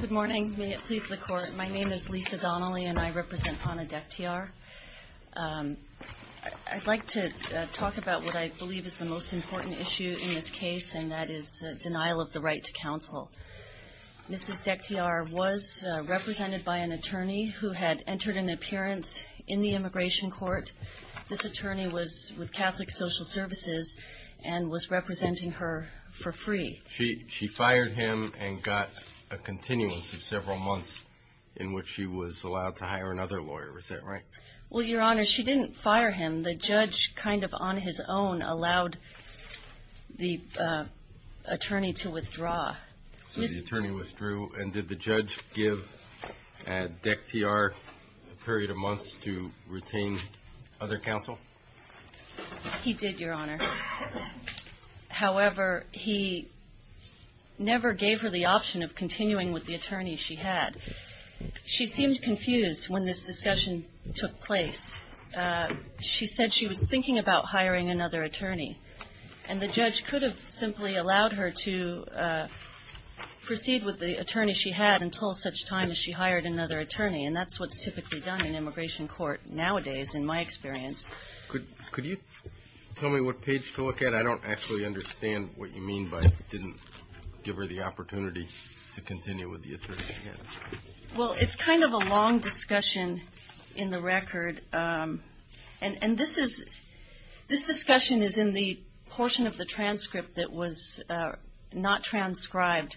Good morning. May it please the Court, my name is Lisa Donnelly and I represent Hanna Dekhtiar. I'd like to talk about what I believe is the most important issue in this case and that is denial of the right to counsel. Mrs. Dekhtiar was represented by an attorney who had entered an appearance in the immigration court. This attorney was with Catholic Social Services and was representing her for free. She fired him and got a continuance of several months in which she was allowed to hire another lawyer, is that right? Well, Your Honor, she didn't fire him. The judge kind of on his own allowed the attorney to withdraw. So the attorney withdrew and did the judge give Dekhtiar a period of months to retain other counsel? MS. DEKHTIAR He did, Your Honor. However, he never gave her the option of continuing with the attorney she had. She seemed confused when this discussion took place. She said she was thinking about hiring another attorney and the judge could have simply allowed her to proceed with the attorney she had until such time as she hired another attorney and that's what's typically done in immigration court nowadays, in my experience. MR. GOLDSMITH Could you tell me what page to look at? I don't actually understand what you mean by didn't give her the opportunity to continue with the attorney she had. MS. DEKHTIAR Well, it's kind of a long discussion in the record and this is, this discussion is in the portion of the transcript that was not transcribed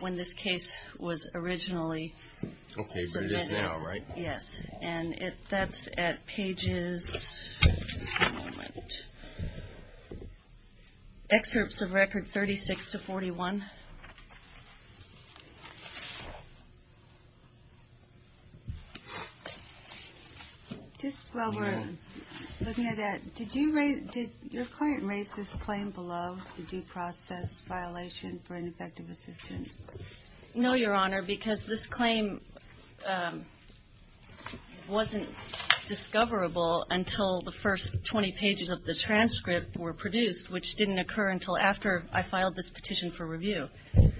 when this case was originally submitted. MR. GOLDSMITH Okay, but it is now, right? MS. DEKHTIAR Yes, and it, that's at pages, one moment, excerpts of record 36 to 41. QUESTION Just while we're looking at that, did you raise, did your client raise this claim below, the due process violation for ineffective assistance? MS. DEKHTIAR No, Your Honor, because this claim wasn't discoverable until the first 20 pages of the transcript were produced, which didn't occur until after I filed this petition for review. MR. GOLDSMITH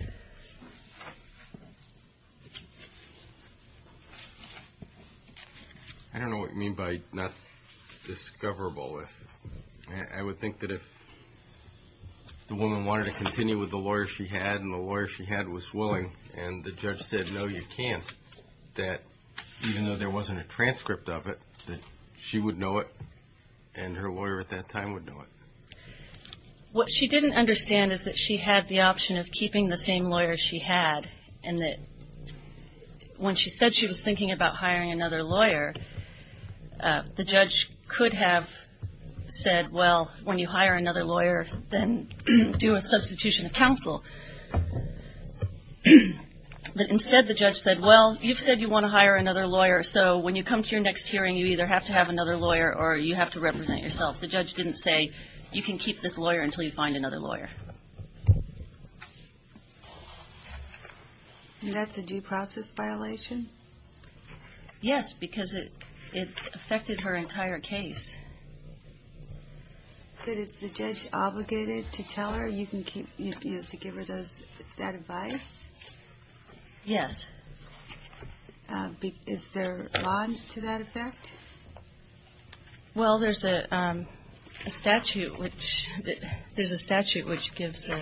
I don't know what you mean by not discoverable. I would think that if the client was willing and the judge said, no, you can't, that even though there wasn't a transcript of it, that she would know it and her lawyer at that time would know it. MS. DEKHTIAR What she didn't understand is that she had the option of keeping the same lawyer she had and that when she said she was thinking about hiring another lawyer, the judge could have said, well, when you hire another lawyer, then do a substitution of counsel. But instead, the judge said, well, you've said you want to hire another lawyer, so when you come to your next hearing, you either have to have another lawyer or you have to represent yourself. The judge didn't say, you can keep this lawyer until you find another lawyer. QUESTION And that's a due process violation? MS. DEKHTIAR Yes, because it affected her entire case. MS. DEKHTIAR But is the judge obligated to tell her you can keep, to give her that advice? MS. DEKHTIAR Yes. MS. DEKHTIAR Is there a bond to that effect? MS. DEKHTIAR Well, there's a statute which gives a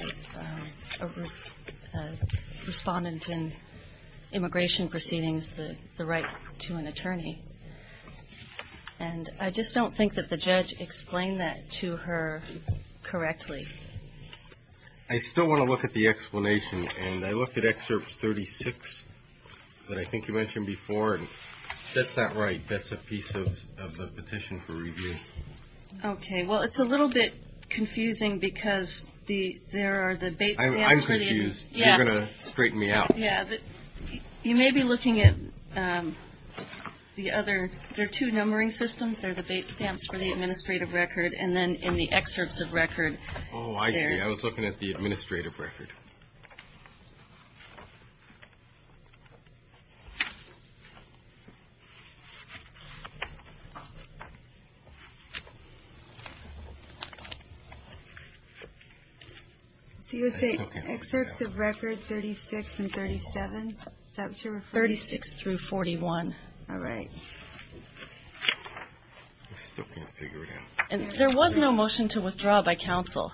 respondent in immigration proceedings the right to an attorney. And I just don't think that the judge explained that to her MR. GARRETT I still want to look at the explanation, and I looked at Excerpt 36 that I think you mentioned before, and that's not right. That's a piece of the petition for review. MS. DEKHTIAR Okay. Well, it's a little bit confusing because there are the baits. MR. GARRETT I'm confused. You're going to straighten me out. MS. DEKHTIAR Yeah. You may be looking at the other, there are two numbering systems. There are the bait stamps for the administrative record, and then in the excerpts of record. MR. GARRETT Oh, I see. I was looking at the administrative record. MS. DEKHTIAR So you would say excerpts of record 36 and 37? Is that what you're referring to? MS. DEKHTIAR 36 through 41. MS. DEKHTIAR All right. MR. GARRETT I'm still trying to figure it out. MS. DEKHTIAR And there was no motion to withdraw by counsel,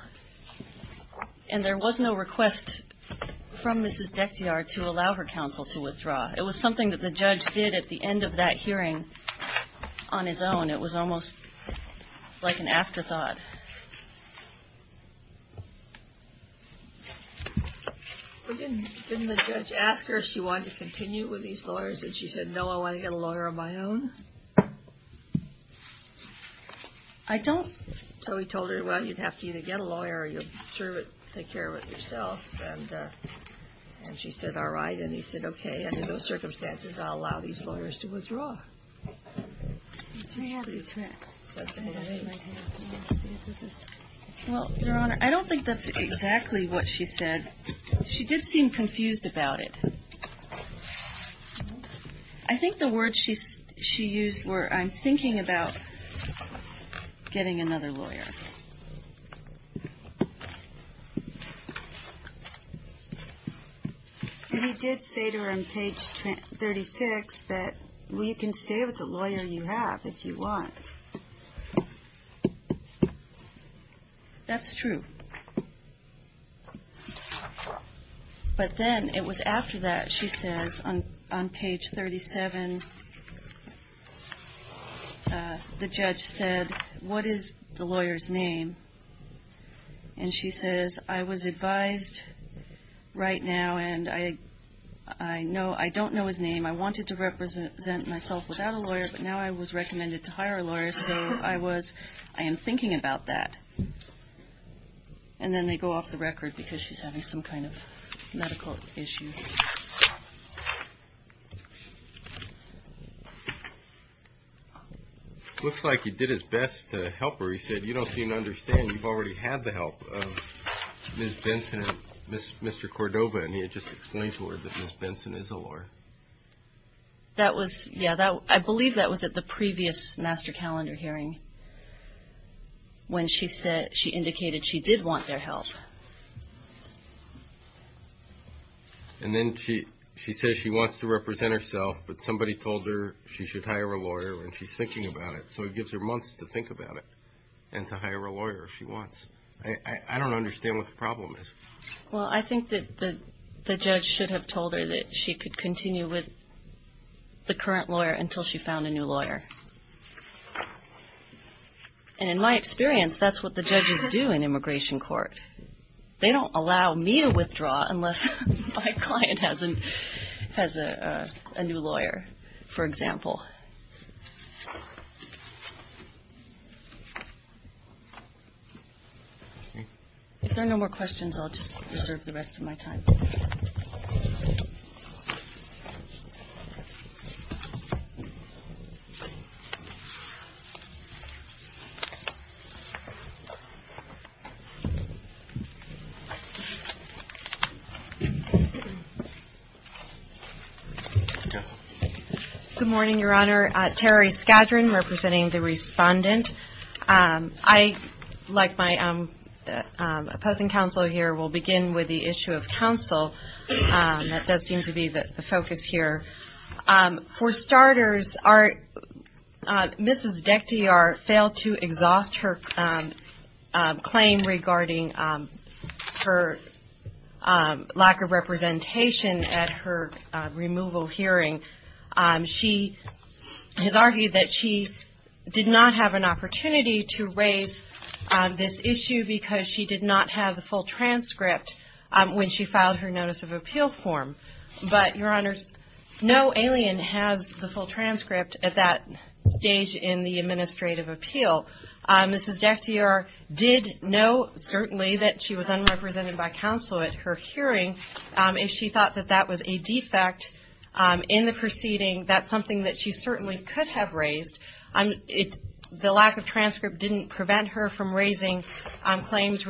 and there was no request to withdraw from Mrs. Dekhtiar to allow her counsel to withdraw. It was something that the judge did at the end of that hearing on his own. It was almost like an afterthought. MS. DEKHTIAR Didn't the judge ask her if she wanted to continue with these lawyers, and she said, no, I want to get a lawyer of my own? MS. DEKHTIAR I don't. MS. DEKHTIAR So he told her, well, you'd have to either get a lawyer or you'd sort of take care of it yourself. And she said, all right. And he said, okay, under those circumstances, I'll allow these lawyers to withdraw. MS. DEKHTIAR Well, Your Honor, I don't think that's exactly what she said. She did seem confused about it. I think the words she used were, I'm thinking about getting another lawyer. MS. DEKHTIAR He did say to her on page 36 that, well, you can stay with the lawyer you have if you want. MS. DEKHTIAR That's true. But then it was after that, she says, on page 37, the judge said, what is the lawyer's name? And she says, I was advised right now, and I don't know his name. I wanted to represent myself without a lawyer, but now I was recommended to hire a lawyer, so I am thinking about that. And then they go off the record because she's having some kind of medical issue. MS. DEKHTIAR Looks like he did his best to help her. He said, you don't seem to understand. You've already had the help of Ms. Benson and Mr. Cordova. And he had just explained to her that Ms. Benson is a lawyer. MS. DEKHTIAR That was, yeah, I believe that was at the previous master calendar hearing when she said, she indicated she did want their help. MS. DEKHTIAR And then she says she wants to represent herself, but somebody told her she should hire a lawyer, and she's thinking about it. So it gives her months to think about it and to hire a lawyer if she wants. I don't understand what the problem is. MS. DEKHTIAR Well, I think that the judge should have told her that she could continue with the current lawyer until she found a new lawyer. And in my experience, that's what the judges do in immigration court. They don't allow me to withdraw unless my client has a new lawyer, for example. If there are no more questions, I'll just reserve the rest of my time. MS. SCADRON Good morning, Your Honor. Terry Scadron representing the Respondent. I, like my opposing counsel here, will begin with the issue of counsel. That does seem to be the focus here. For starters, Mrs. Dekhtiar failed to exhaust her claim regarding her lack of representation at her removal hearing. She has argued that she did not have an opportunity to raise this issue because she did not have the full transcript when she filed her notice of appeal form. But, Your Honor, no alien has the full transcript at that stage in the administrative appeal. Mrs. Dekhtiar did know, certainly, that she was unrepresented by counsel at her hearing, and she thought that that was a defect in the proceeding. That's something that she certainly could have raised. The lack of transcript didn't prevent her from I suppose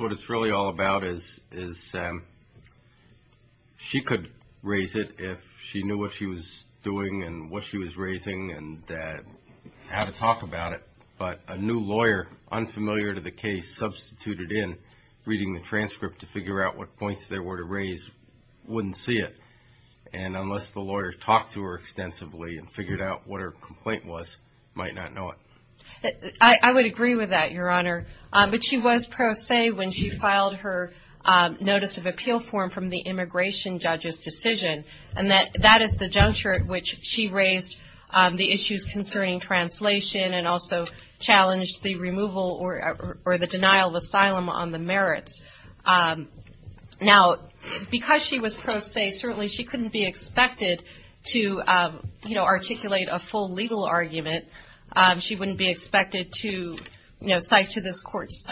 what it's really all about is she could raise it if she knew what she was doing and what she was raising and how to talk about it. But a new lawyer, unfamiliar to the case, substituted in reading the transcript to figure out what points there were to raise wouldn't see it. And unless the lawyer talked to her extensively and figured out what her complaint was, she might not know it. I would agree with that, Your Honor. But she was pro se when she filed her notice of appeal form from the immigration judge's decision. And that is the juncture at which she raised the issues concerning translation and also challenged the removal or the denial of asylum on the merits. Now, because she was pro se, certainly she couldn't be expected to articulate a full legal argument. She wouldn't be expected to cite to this court's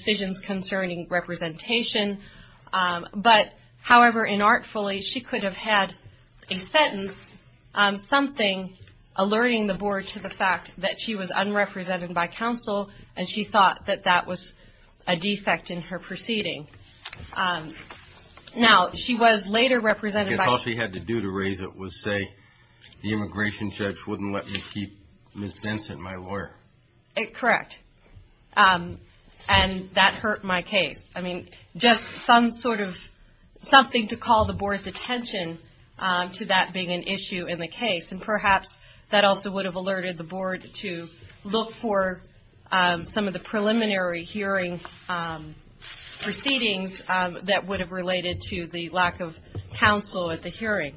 decisions concerning representation. But, however, inartfully, she could have had a sentence, something alerting the board to the fact that she was unrepresented by counsel and she thought that that was a defect in her proceeding. Now, she was later represented by... Because all she had to do to raise it was say, the immigration judge wouldn't let me keep Ms. Benson, my lawyer. Correct. And that hurt my case. I mean, just some sort of, something to call the board's attention to that being an issue in the case. And perhaps that also would have alerted the board to look for some of the preliminary hearing proceedings that would have related to the lack of counsel at the hearing.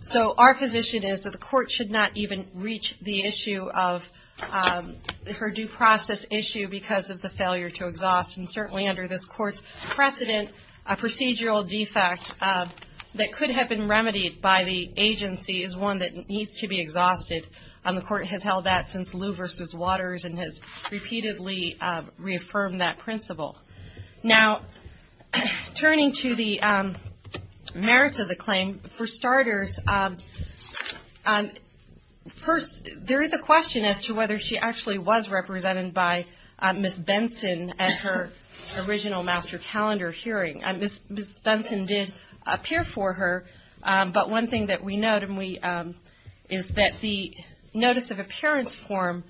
So, our position is that the court should not even reach the issue of her due process issue because of the failure to exhaust. And certainly under this court's precedent, a procedural defect that could have been remedied by the agency is one that needs to be exhausted. The court has held that since Lew v. Waters and has repeatedly reaffirmed that principle. Now, turning to the merits of the claim, for starters, there is a question as to whether she actually was represented by Ms. Benson at her original master calendar hearing. Ms. Benson did appear for her, but one thing that we note is that the notice of appearance form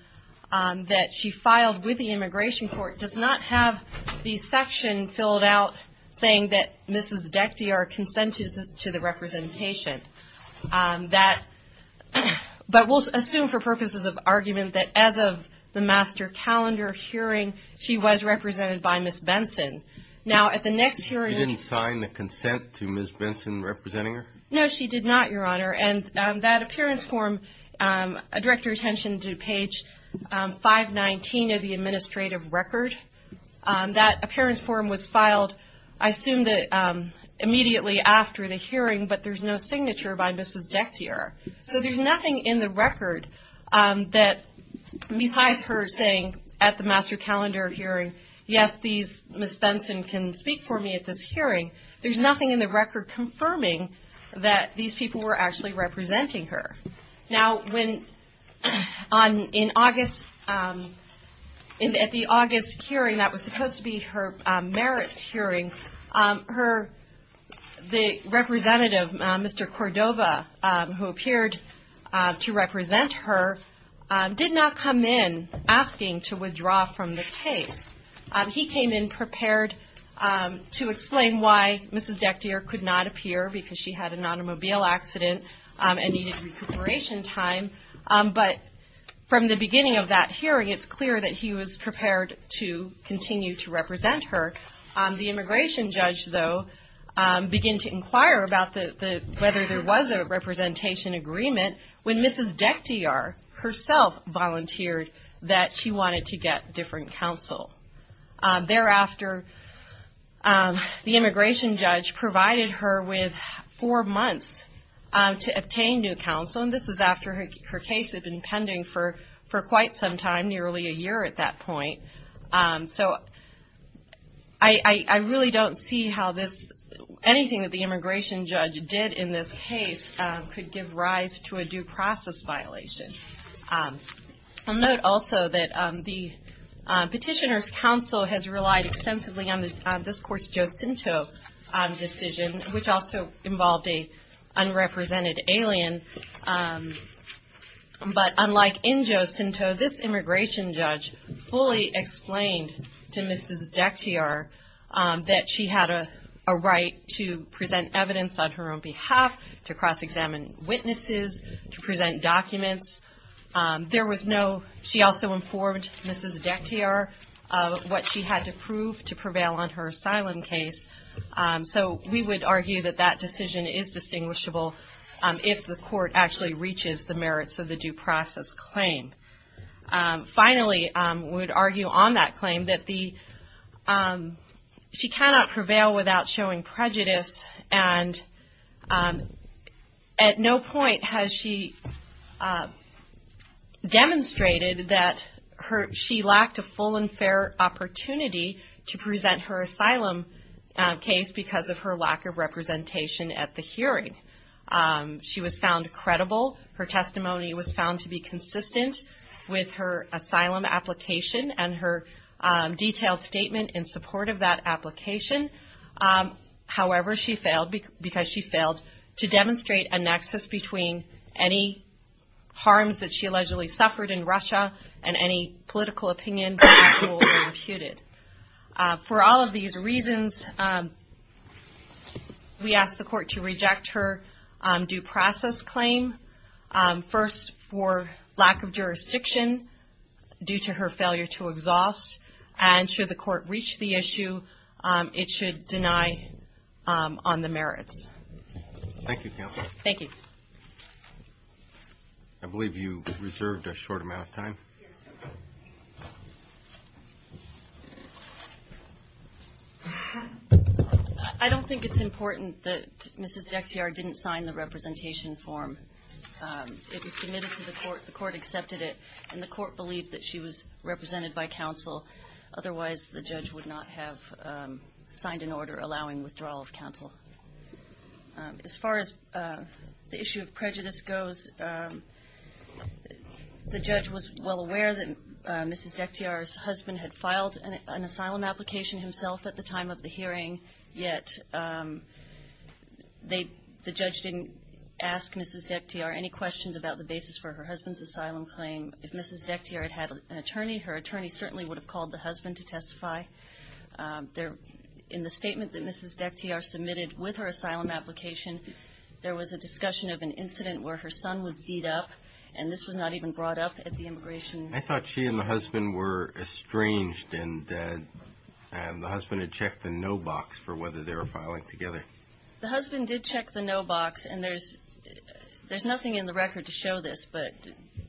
that she filed with the Immigration Court does not have the section filled out saying that Mrs. Dektyer consented to the representation. But we'll assume for purposes of argument that as of the master calendar hearing, she was represented by Ms. Benson. Now, at the next hearing... She didn't sign the consent to Ms. Benson representing her? No, she did not, Your Honor. And that appearance form, direct your attention to page 519 of the administrative record. That appearance form was filed, I assume, immediately after the hearing, but there's no signature by Mrs. Dektyer. So there's nothing in the record that, besides her saying at the master calendar hearing, yes, Ms. Benson can speak for me at this hearing, there's nothing in the record confirming that these people were actually representing her. Now, at the August hearing that was supposed to be her merit hearing, the representative, Mr. Cordova, who appeared to represent her, did not come in asking to explain why Mrs. Dektyer could not appear because she had an automobile accident and needed recuperation time. But from the beginning of that hearing, it's clear that he was prepared to continue to represent her. The immigration judge, though, began to inquire about whether there was a representation agreement when Mrs. Dektyer herself volunteered that she The immigration judge provided her with four months to obtain new counsel, and this was after her case had been pending for quite some time, nearly a year at that point. So I really don't see how anything that the immigration judge did in this case could give rise to a due process violation. I'll note also that the petitioner's counsel has relied extensively on this court's Jocinto decision, which also involved an unrepresented alien. But unlike in Jocinto, this immigration judge fully explained to Mrs. Dektyer that she had a right to present evidence on her own behalf, to cross-examine witnesses, to present documents. She also did not prevail on her asylum case. So we would argue that that decision is distinguishable if the court actually reaches the merits of the due process claim. Finally, we would argue on that claim that she cannot prevail without showing prejudice, and at no point has she failed in her asylum case because of her lack of representation at the hearing. She was found credible. Her testimony was found to be consistent with her asylum application and her detailed statement in support of that application. However, she failed because she failed to demonstrate a nexus between any harms that she allegedly suffered in Russia and any political opinion that was being imputed. For all of these reasons, we ask the court to reject her due process claim. First, for lack of jurisdiction due to her failure to exhaust, and should the court reach the issue, it should deny on the merits. Thank you, Counselor. Thank you. I believe you reserved a short amount of time. Yes, Your Honor. I don't think it's important that Mrs. Dektyer didn't sign the representation form. It was submitted to the court, the court accepted it, and the court believed that she was represented by counsel. Otherwise, the judge would not have signed an order allowing withdrawal of counsel. As far as the issue of prejudice goes, the judge was well aware that Mrs. Dektyer's husband had filed an asylum application himself at the time of the hearing, yet the judge didn't ask Mrs. Dektyer any questions about the basis for her husband's asylum claim. If Mrs. Dektyer had had an attorney, her attorney certainly would have called the with her asylum application. There was a discussion of an incident where her son was beat up, and this was not even brought up at the immigration. I thought she and the husband were estranged, and the husband had checked the no box for whether they were filing together. The husband did check the no box, and there's nothing in the record to show this, but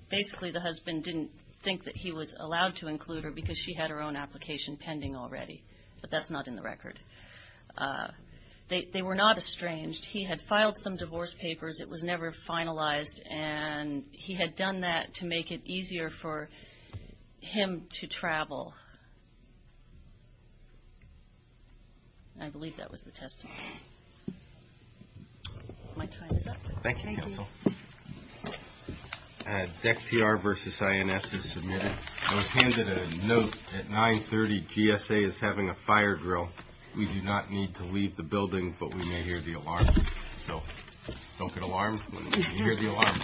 basically the husband didn't think that he was allowed to include her because she had her own application pending already, but that's not in the record. They were not estranged. He had filed some divorce papers. It was never finalized, and he had done that to make it easier for him to travel. I believe that was the testimony. My time is up. Thank you, counsel. Dektyer versus INS is submitted. I was handed a note that 930 GSA is having a fire drill. We do not need to leave the building, but we may hear the alarm, so don't get alarmed when you hear the alarm. Thank you.